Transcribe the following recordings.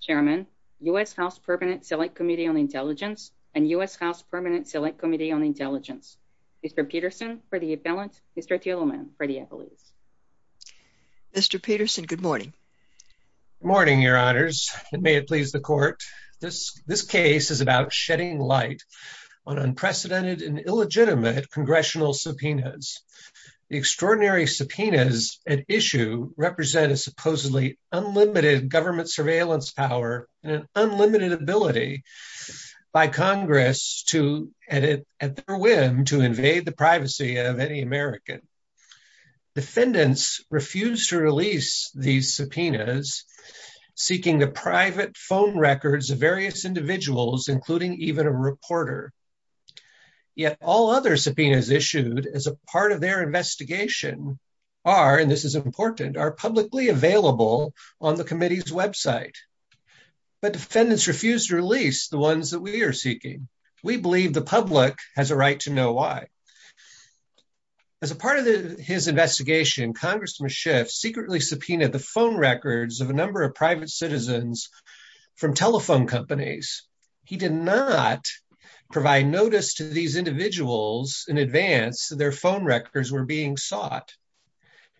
Chairman, U.S. House Permanent Select Committee on Intelligence, and U.S. House Permanent Select Committee on Intelligence. Mr. Peterson for the appellant, Mr. Thieleman for the appellate. Mr. Peterson, good morning. Good morning, your honors, and may it please the court. This case is about shedding light on unprecedented and illegitimate congressional subpoenas. The extraordinary subpoenas at issue represent a supposedly unlimited government surveillance power and an unlimited ability by Congress to, at their whim, to invade the privacy of any American. Defendants refuse to release these subpoenas, seeking the private phone records of various individuals, including even a reporter. Yet all other subpoenas issued as a part of their investigation are, and this is important, are publicly available on the committee's website. But defendants refuse to release the ones that we are seeking. We believe the public has a right to know why. As a part of his investigation, Congressman Schiff secretly subpoenaed the phone records of a number of private citizens from telephone companies. He did not provide notice to these individuals in advance that their phone records were being sought.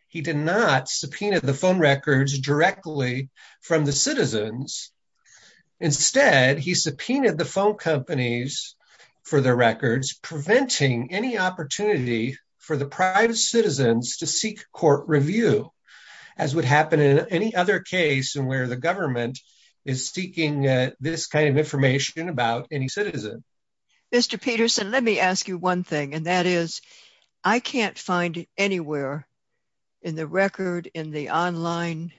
He did not subpoena the phone records directly from the citizens. Instead, he subpoenaed the phone companies for their records, preventing any opportunity for the private citizens to seek court review, as would happen in any other case in where the government is seeking this kind of information about any citizen. Mr. Peterson, let me ask you one thing, and that is, I can't find anywhere in the record, in the online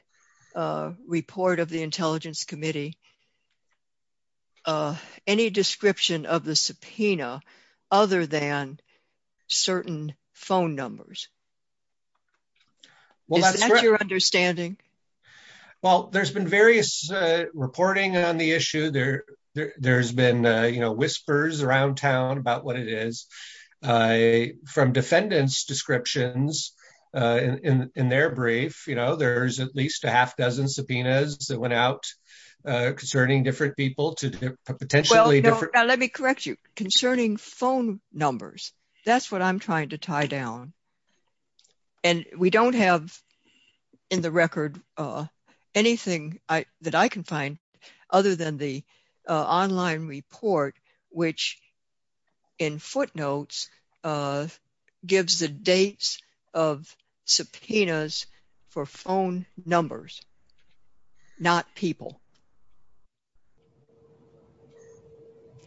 report of the Intelligence Committee, any description of the subpoena other than certain phone numbers. Is that your understanding? Well, there's been various reporting on the issue. There's been, you know, whispers around town about what it is. From defendants' descriptions, in their brief, you know, there's at least a half a dozen subpoenas that went out concerning different people to potentially different- Well, now let me correct you. Concerning phone numbers, that's what I'm trying to tie down. And we don't have, in the record, anything that I can find other than the online report, which, in footnotes, gives the dates of subpoenas for phone numbers, not people.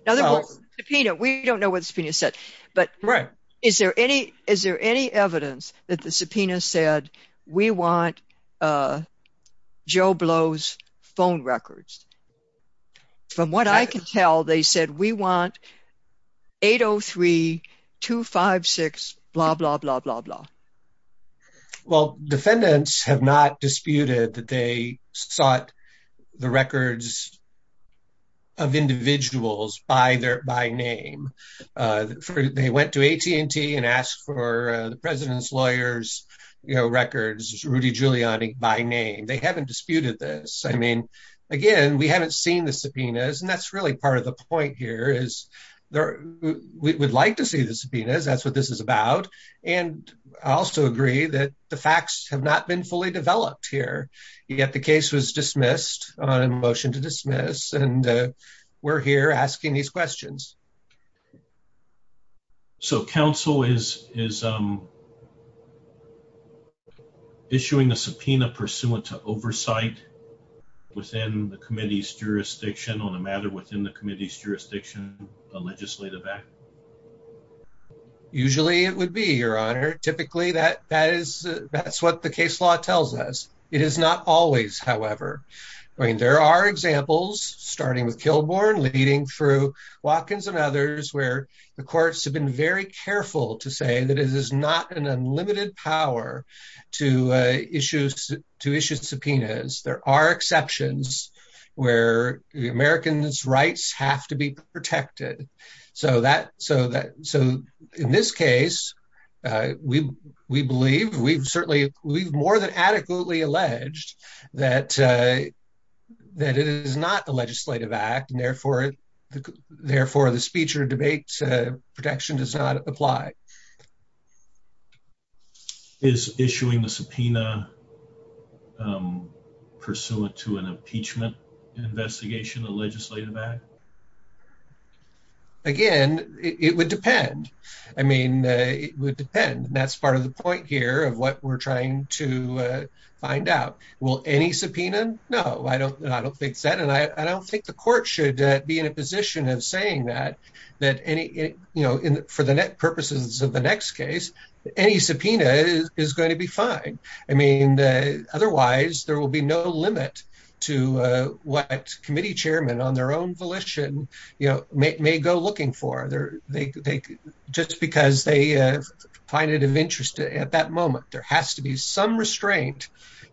In other words, the subpoena, we don't know what the subpoena said. Right. But is there any evidence that the subpoena said, we want Joe Blow's phone records? From what I can tell, they said, we want 803-256 blah, blah, blah, blah, blah. Well, defendants have not disputed that they sought the records of individuals by name. They went to AT&T and asked for the president's lawyers' records, Rudy Giuliani, by name. They haven't seen the subpoenas. And that's really part of the point here is we would like to see the subpoenas. That's what this is about. And I also agree that the facts have not been fully developed here, yet the case was dismissed on a motion to dismiss. And we're here asking these questions. So, counsel, is issuing a subpoena pursuant to oversight within the committee's jurisdiction on a matter within the committee's jurisdiction, a legislative act? Usually, it would be, Your Honor. Typically, that's what the case law tells us. It is not always, however. I mean, there are examples, starting with Kilbourn, leading through Watkins and others, where the courts have been very careful to say that it is not an unlimited power to issue subpoenas. There are exceptions where the American's rights have to be protected. So, in this case, we believe, we've certainly, we've more than adequately alleged that it is not a legislative act, and therefore, the speech or debate protection does not apply. Is issuing a subpoena pursuant to an impeachment investigation a legislative act? Again, it would depend. I mean, it would depend. And that's part of the point here of what we're trying to find out. Will any subpoena? No, I don't think so. And I don't think the court should be in a position of saying that for the purposes of the next case, any subpoena is going to be fine. I mean, otherwise, there will be no limit to what committee chairmen, on their own volition, may go looking for, just because they find it of interest at that moment. There has to be some restraint.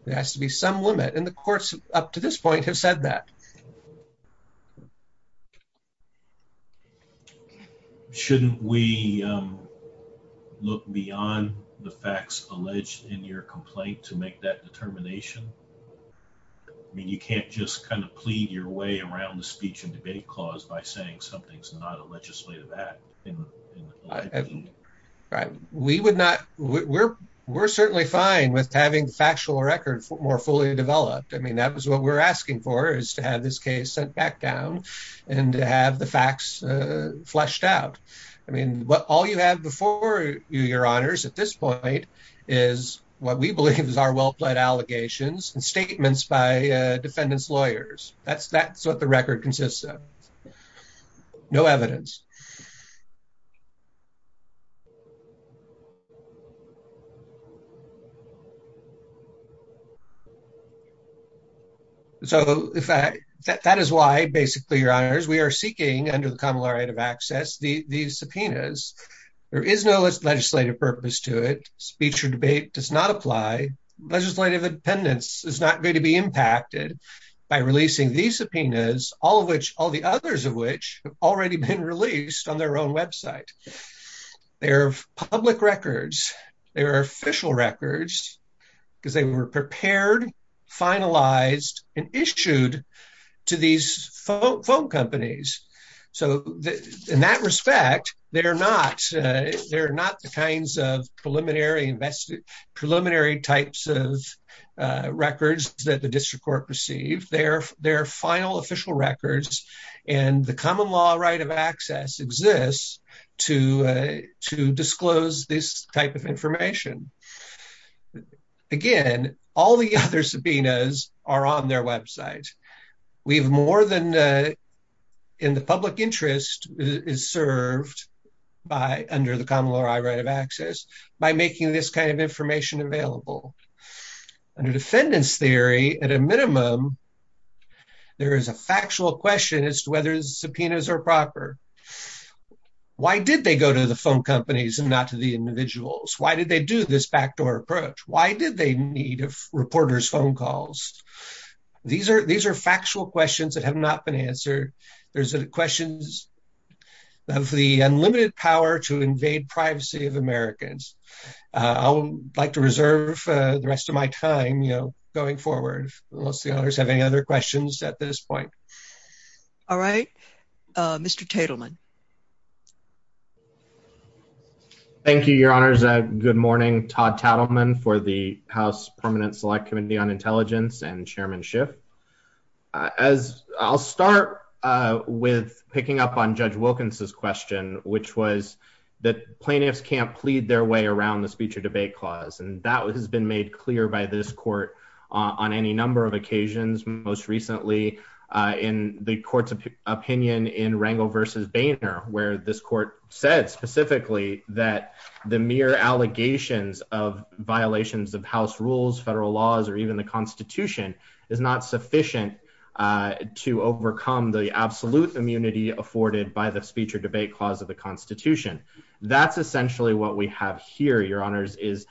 There has to be some limit. And the courts, up to this point, have said that. Shouldn't we look beyond the facts alleged in your complaint to make that determination? I mean, you can't just kind of plead your way around the speech and debate clause by saying something's not a legislative act. We would not. We're certainly fine with having the factual record more fully developed. I mean, that was what we're asking for, is to have this case sent back down and to have the facts fleshed out. I mean, what all you have before you, Your Honors, at this point, is what we believe is our well-pled allegations and statements by defendant's lawyers. That's what the record consists of. No evidence. So, that is why, basically, Your Honors, we are seeking, under the Common Law Right of Access, these subpoenas. There is no legislative purpose to it. Speech or debate does not apply. Legislative independence is not going to be impacted by releasing these subpoenas, all of which, all the others of which, have already been released on their own website. They are public records. They are official records, because they were prepared, finalized, and issued to these phone companies. So, in that respect, they are not the kinds of preliminary types of records that the District Court received. They are final, official records, and the Common Law Right of Access exists to disclose this type of information. Again, all the other subpoenas are on their website. We've more than, in the public interest, is served by, under the Common Law Right of Access, by making this kind of information available. Under defendant's theory, at a minimum, there is a factual question as to whether the subpoenas are proper. Why did they go to the phone companies and not to the individuals? Why did they do this backdoor approach? Why did they need a reporter's phone calls? These are factual questions that have not been answered. There's the questions of the unlimited power to invade privacy of Americans. I would like to reserve the rest of my time, you know, going forward, unless the others have any other questions at this point. All right. Mr. Tatelman. Thank you, Your Honors. Good morning. Todd Tatelman for the House Permanent Select Committee on Intelligence and Chairman Schiff. I'll start with picking up on Judge Wilkins' question, which was that plaintiffs can't plead their way around the speech or debate clause. And that has been made clear by this court on any number of occasions, most recently in the court's opinion in Rangel v. Boehner, where this court said specifically that the mere allegations of House rules, federal laws, or even the Constitution is not sufficient to overcome the absolute immunity afforded by the speech or debate clause of the Constitution. That's essentially what we have here, Your Honors, is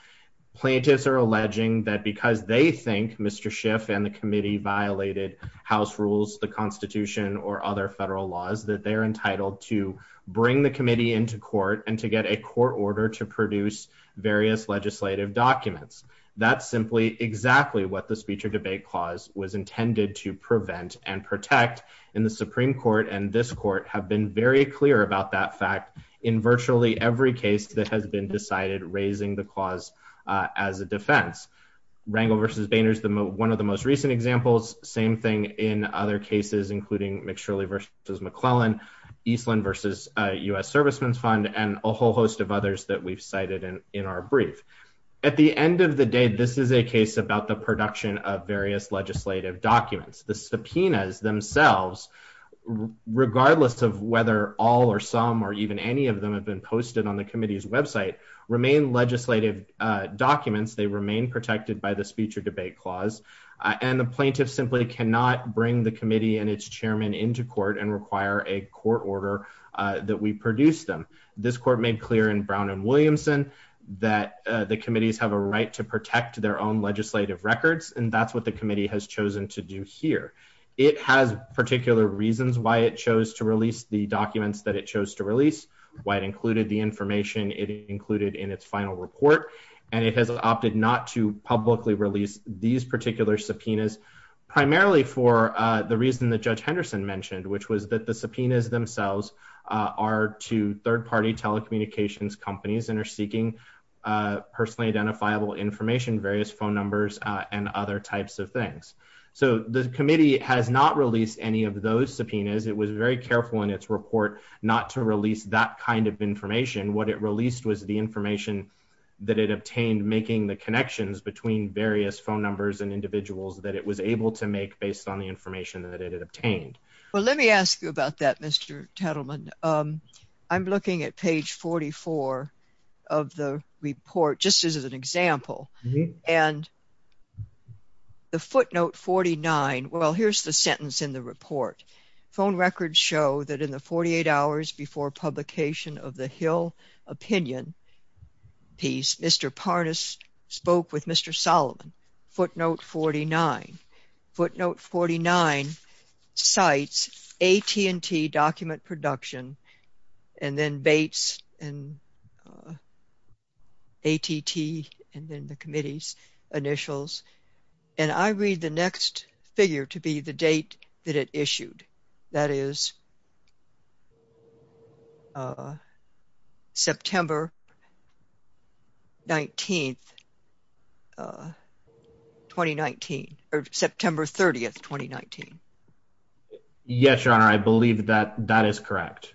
plaintiffs are alleging that because they think Mr. Schiff and the committee violated House rules, the Constitution, or other federal laws, that they're entitled to bring the committee into court and to get a court order to produce various legislative documents. That's simply exactly what the speech or debate clause was intended to prevent and protect, and the Supreme Court and this court have been very clear about that fact in virtually every case that has been decided raising the clause as a defense. Rangel v. Boehner is one of the most recent examples. Same thing in other cases, including McShirley v. McClellan, Eastland v. U.S. Servicemen's Fund, and a whole host of others that we've cited in our brief. At the end of the day, this is a case about the production of various legislative documents. The subpoenas themselves, regardless of whether all or some or even any of them have been posted on the committee's website, remain legislative documents. They remain protected by the speech or debate clause, and the plaintiff simply cannot bring the committee and its chairman into court and require a court order that we produce them. This court made clear in Brown Williamson that the committees have a right to protect their own legislative records, and that's what the committee has chosen to do here. It has particular reasons why it chose to release the documents that it chose to release, why it included the information it included in its final report, and it has opted not to publicly release these particular subpoenas, primarily for the reason that Judge Henderson mentioned, which was that the subpoenas themselves are to third-party telecommunications companies and are seeking personally identifiable information, various phone numbers, and other types of things. So the committee has not released any of those subpoenas. It was very careful in its report not to release that kind of information. What it released was the information that it obtained making the connections between various phone numbers and individuals that it was able to make based on the information that it had obtained. Well, let me ask you about that, Mr. Tittleman. I'm looking at page 44 of the report just as an example, and the footnote 49, well, here's the sentence in the report. Phone records show that in the 48 hours before publication of the Hill opinion piece, Mr. Parnas spoke with Mr. Solomon. Footnote 49. Footnote 49 cites AT&T document production and then Bates and AT&T and then the committee's initials, and I read the next figure to be the date that it issued. That is September 19th, 2019, or September 30th, 2019. Yes, Your Honor, I believe that that is correct.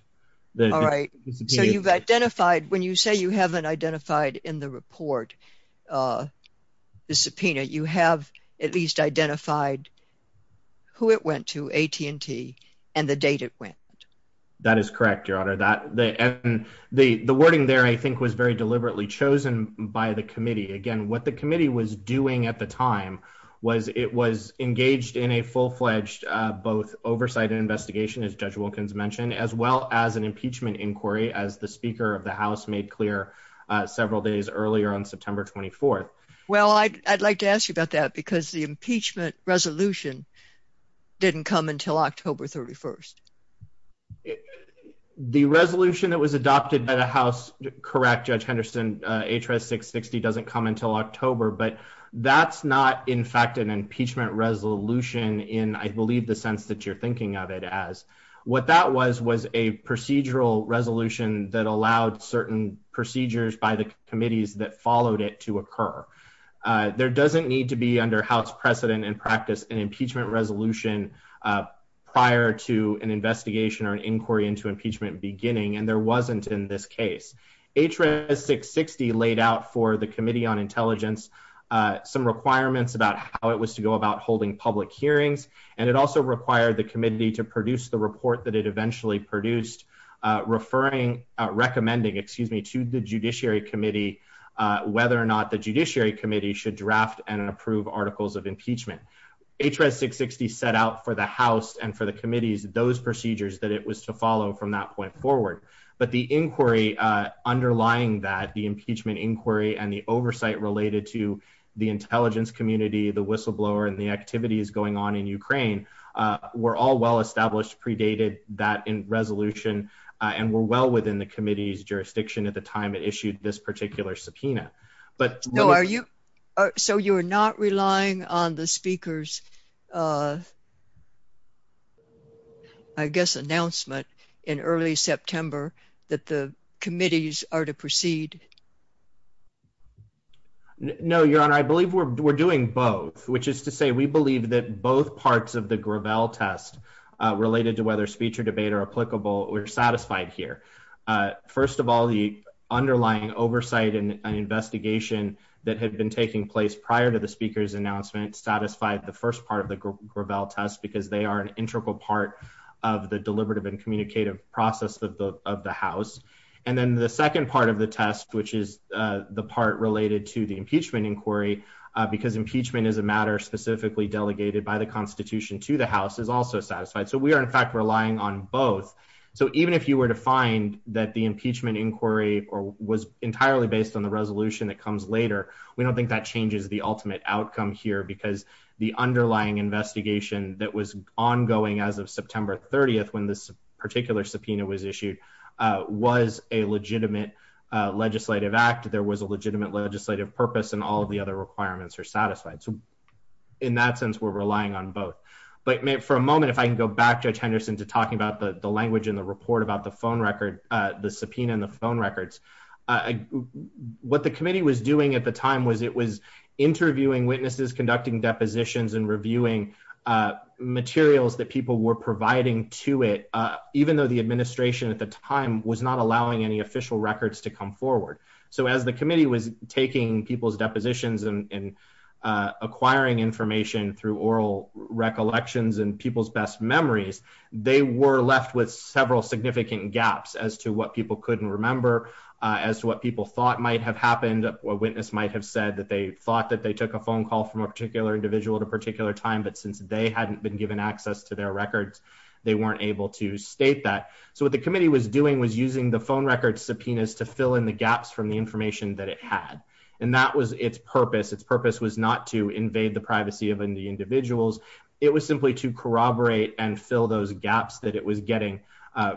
All right, so you've identified, when you say you haven't identified in the report the subpoena, you have at least identified who it went to, AT&T, and the date it went. That is correct, Your Honor. The wording there, I think, was very deliberately chosen by the committee. Again, what the committee was doing at the time was it was engaged in a full-fledged both oversight and investigation, as Judge Wilkins mentioned, as well as an impeachment inquiry, as the Speaker of the House made clear several days earlier on September 24th. Well, I'd like to ask you about that because the impeachment resolution didn't come until October 31st. The resolution that was adopted by the House, correct, Judge Henderson, H.R.S. 660 doesn't come until October, but that's not, in fact, an impeachment resolution in, I believe, the sense that you're thinking of it as. What that was was a procedural resolution that allowed certain procedures by the committees that followed it to occur. There doesn't need to be, under House precedent and practice, an impeachment resolution prior to an investigation or an inquiry into impeachment beginning, and there wasn't in this case. H.R.S. 660 laid out for the Committee on Intelligence some requirements about how it and it also required the committee to produce the report that it eventually produced, referring, recommending, excuse me, to the Judiciary Committee whether or not the Judiciary Committee should draft and approve articles of impeachment. H.R.S. 660 set out for the House and for the committees those procedures that it was to follow from that point forward, but the inquiry underlying that, the impeachment inquiry and the oversight related to the Ukraine were all well established, predated that resolution, and were well within the committee's jurisdiction at the time it issued this particular subpoena. So you're not relying on the Speaker's, I guess, announcement in early September that the committees are to proceed? No, Your Honor. I believe we're doing both, which is to say we believe that both parts of the Gravel test related to whether speech or debate are applicable, we're satisfied here. First of all, the underlying oversight and investigation that had been taking place prior to the Speaker's announcement satisfied the first part of the Gravel test because they are an integral part of the deliberative and communicative process of the House. And then the second part of the test, which is the part related to the impeachment inquiry, because impeachment is a matter specifically delegated by the Constitution to the House, is also satisfied. So we are, in fact, relying on both. So even if you were to find that the impeachment inquiry was entirely based on the resolution that comes later, we don't think that changes the ultimate outcome here because the underlying investigation that was ongoing as of September 30th when this particular legislative act, there was a legitimate legislative purpose and all of the other requirements are satisfied. So in that sense, we're relying on both. But for a moment, if I can go back, Judge Henderson, to talking about the language in the report about the phone record, the subpoena and the phone records, what the committee was doing at the time was it was interviewing witnesses, conducting depositions and reviewing materials that people were providing to it, even though the administration at the time was not allowing any official records to come forward. So as the committee was taking people's depositions and acquiring information through oral recollections and people's best memories, they were left with several significant gaps as to what people couldn't remember, as to what people thought might have happened. A witness might have said that they thought that they took a phone call from a particular individual at a particular time, but since they hadn't been given access to their records, they weren't able to state that. So what the committee was doing was using the phone record subpoenas to fill in the gaps from the information that it had. And that was its purpose. Its purpose was not to invade the privacy of the individuals. It was simply to corroborate and fill those gaps that it was getting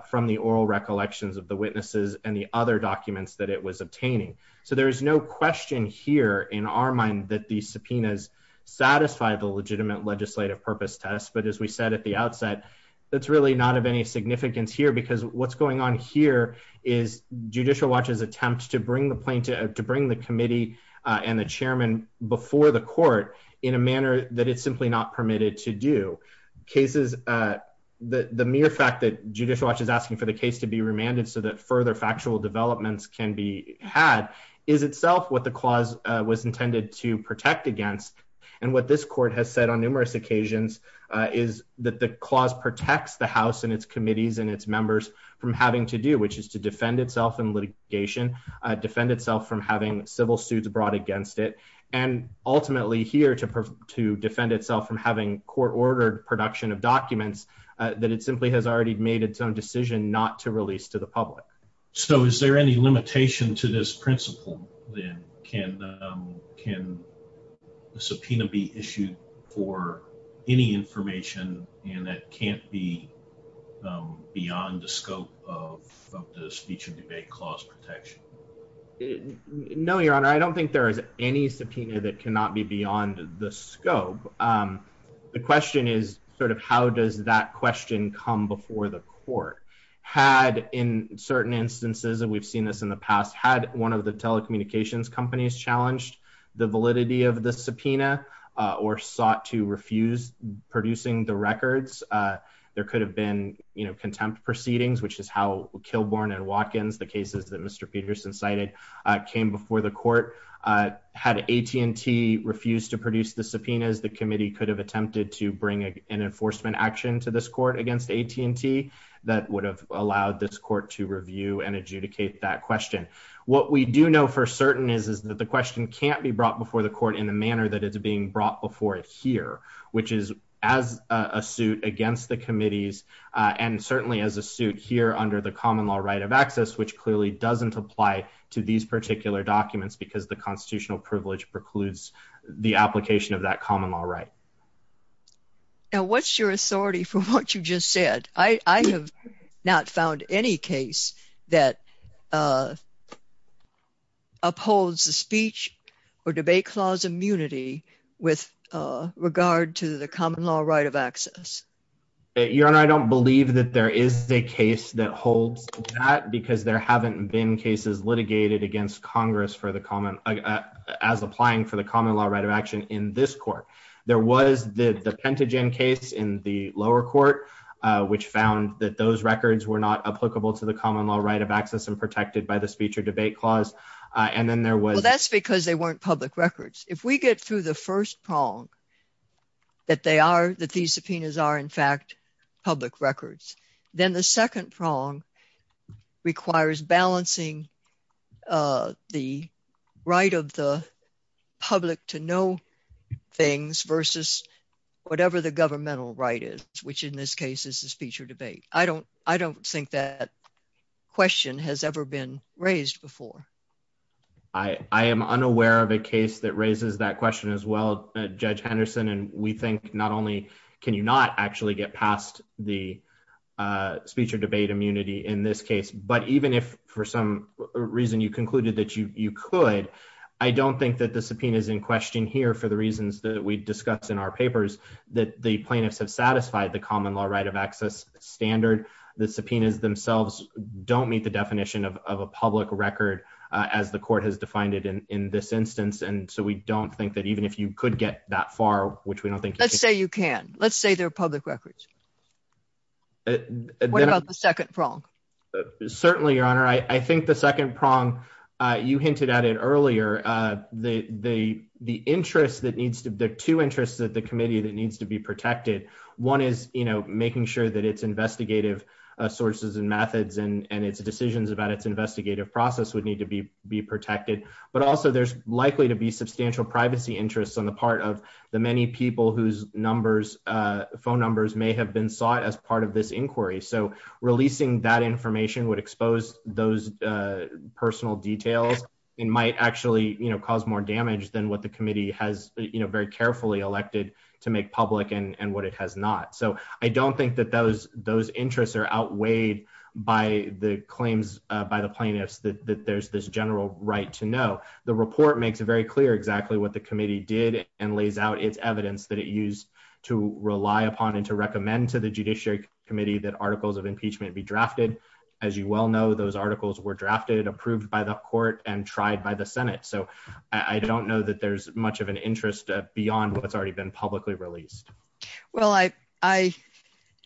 from the oral recollections of the witnesses and the other documents that it was obtaining. So there is no question here in our mind that these subpoenas satisfy the legitimate legislative purpose test. But as we said at the outset, that's really not of any significance here because what's going on here is Judicial Watch's attempt to bring the committee and the chairman before the court in a manner that it's simply not permitted to do. The mere fact that Judicial Watch is asking for the case to be remanded so that further factual developments can be had is itself what the court is intended to protect against. And what this court has said on numerous occasions is that the clause protects the House and its committees and its members from having to do, which is to defend itself in litigation, defend itself from having civil suits brought against it, and ultimately here to defend itself from having court-ordered production of documents that it simply has already made its own decision not to release to the public. So is there any limitation to this can the subpoena be issued for any information and that can't be beyond the scope of the speech and debate clause protection? No, Your Honor. I don't think there is any subpoena that cannot be beyond the scope. The question is sort of how does that question come before the court? Had in certain instances, and we've seen this in the past, had one of the telecommunications companies challenged the validity of the subpoena or sought to refuse producing the records, there could have been contempt proceedings, which is how Kilbourn and Watkins, the cases that Mr. Peterson cited, came before the court. Had AT&T refused to produce the subpoenas, the committee could have attempted to bring an enforcement action to this court against AT&T that would have allowed this court to review and adjudicate that question. What we do know for certain is that the question can't be brought before the court in the manner that it's being brought before it here, which is as a suit against the committees, and certainly as a suit here under the common law right of access, which clearly doesn't apply to these particular documents because the constitutional privilege precludes the application of that common law right. Now what's your authority for what you just said? I have not found any case that upholds the speech or debate clause immunity with regard to the common law right of access. Your Honor, I don't believe that there is a case that holds that because there haven't been cases litigated against Congress as applying for the common law right of action in this court. There was the Pentagen case in the lower court, which found that those records were not applicable to common law right of access and protected by the speech or debate clause. Well, that's because they weren't public records. If we get through the first prong that these subpoenas are in fact public records, then the second prong requires balancing the right of the public to know things versus whatever the governmental right is, which in this case is the speech or debate. I don't think that question has ever been raised before. I am unaware of a case that raises that question as well, Judge Henderson, and we think not only can you not actually get past the speech or debate immunity in this case, but even if for some reason you concluded that you could, I don't think that the subpoena is in question here for the reasons that we discuss in our papers, that the plaintiffs have satisfied the common law right of access standard. The subpoenas themselves don't meet the definition of a public record as the court has defined it in this instance, and so we don't think that even if you could get that far, which we don't think... Let's say you can. Let's say they're public records. What about the second prong? Certainly, Your Honor. I think the second prong, you hinted at it earlier, the interest that there are two interests at the committee that needs to be protected. One is making sure that its investigative sources and methods and its decisions about its investigative process would need to be protected, but also there's likely to be substantial privacy interests on the part of the many people whose phone numbers may have been sought as part of this inquiry, so releasing that information would expose those personal details and might actually cause more very carefully elected to make public and what it has not. So I don't think that those interests are outweighed by the claims by the plaintiffs that there's this general right to know. The report makes it very clear exactly what the committee did and lays out its evidence that it used to rely upon and to recommend to the Judiciary Committee that articles of impeachment be drafted. As you well know, those articles were drafted, approved by the court, and tried by the Judiciary Committee. So I don't think there's much of an interest beyond what's already been publicly released. Well, I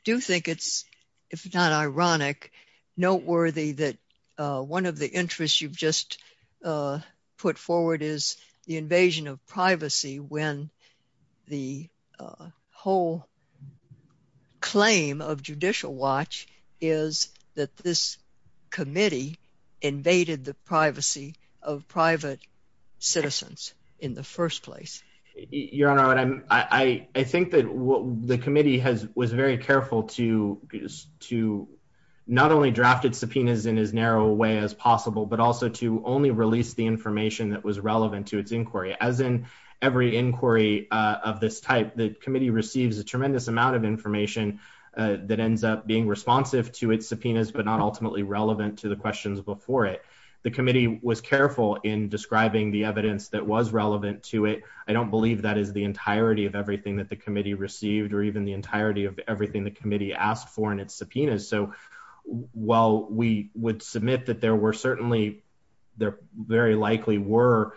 do think it's, if not ironic, noteworthy that one of the interests you've just put forward is the invasion of privacy when the whole claim of Judicial Watch is that this Your Honor, I think that the committee was very careful to not only draft its subpoenas in as narrow a way as possible, but also to only release the information that was relevant to its inquiry. As in every inquiry of this type, the committee receives a tremendous amount of information that ends up being responsive to its subpoenas, but not ultimately relevant to the questions before it. The committee was careful in describing the evidence that was relevant to it. I don't believe that is the entirety of everything that the committee received, or even the entirety of everything the committee asked for in its subpoenas. So while we would submit that there were certainly, there very likely were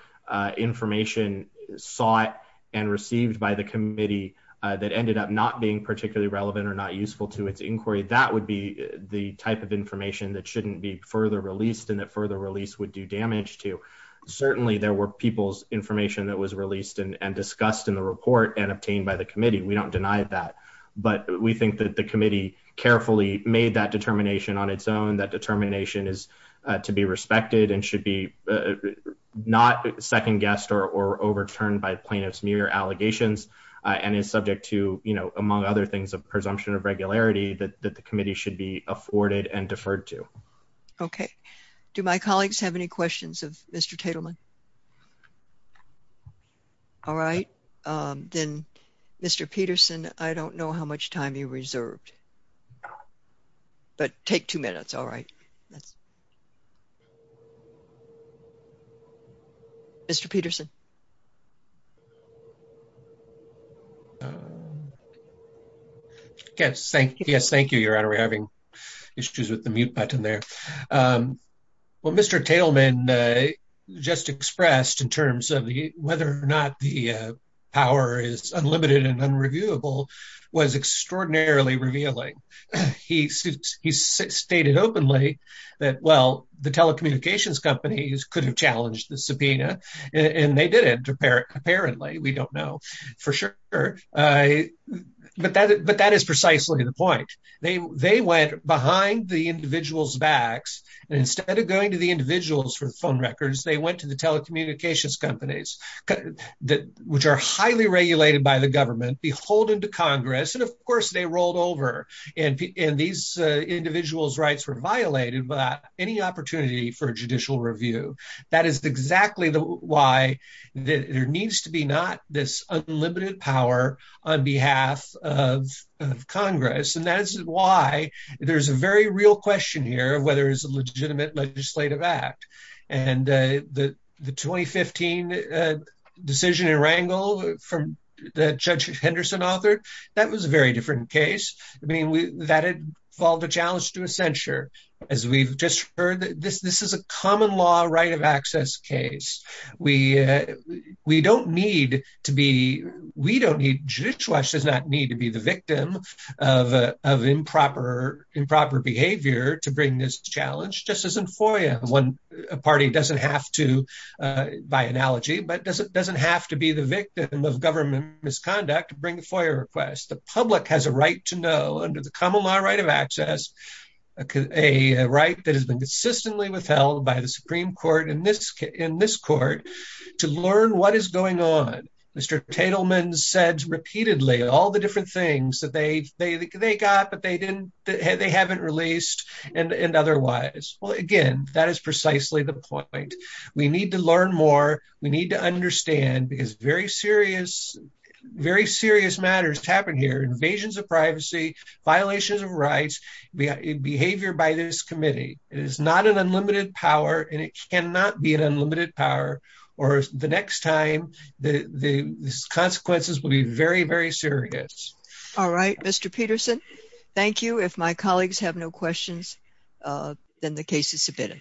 information sought and received by the committee that ended up not being particularly relevant or not useful to its inquiry, that would be the type of information that shouldn't be further released and that further release would do damage to. Certainly, there were people's information that was released and discussed in the report and obtained by the committee. We don't deny that. But we think that the committee carefully made that determination on its own. That determination is to be respected and should be not second-guessed or overturned by plaintiffs mere allegations, and is subject to, you know, among other things, a presumption of Okay. Do my colleagues have any questions of Mr. Tatelman? All right. Then, Mr. Peterson, I don't know how much time you reserved, but take two minutes. All right. Mr. Peterson. Yes, thank you. Yes, thank you, Your Honor. We're having issues with the mute button there. What Mr. Tatelman just expressed in terms of whether or not the power is unlimited and unreviewable was extraordinarily revealing. He stated openly that, well, the telecommunications companies could have challenged the subpoena, and they didn't, apparently. We don't know for sure. But that is precisely the point. They went behind the individual's backs, and instead of going to the individuals for the phone records, they went to the telecommunications companies, which are highly regulated by the government, beholden to Congress, and, of course, they rolled over. And these individuals' rights were violated without any opportunity for judicial review. That is exactly why there needs to be not this unlimited power on behalf of Congress. And that is why there's a very real question here of whether it's a legitimate legislative act. And the 2015 decision in Wrangell that Judge Henderson authored, that was a very different case. I mean, that involved a challenge to a censure. As we've just heard, this is a common law right of access case. We don't need to be, we don't need, Judicial Watch does not need to be the party, doesn't have to, by analogy, but doesn't have to be the victim of government misconduct to bring a FOIA request. The public has a right to know under the common law right of access, a right that has been consistently withheld by the Supreme Court in this court, to learn what is going on. Mr. Tatelman said repeatedly all the different things that they got, but they haven't released and otherwise. Well, again, that is precisely the point. We need to learn more. We need to understand because very serious, very serious matters happen here, invasions of privacy, violations of rights, behavior by this committee. It is not an unlimited power and it cannot be an unlimited power or the next time the consequences will be very, very serious. All right, Mr. Tatelman, if my colleagues have no questions, then the case is submitted.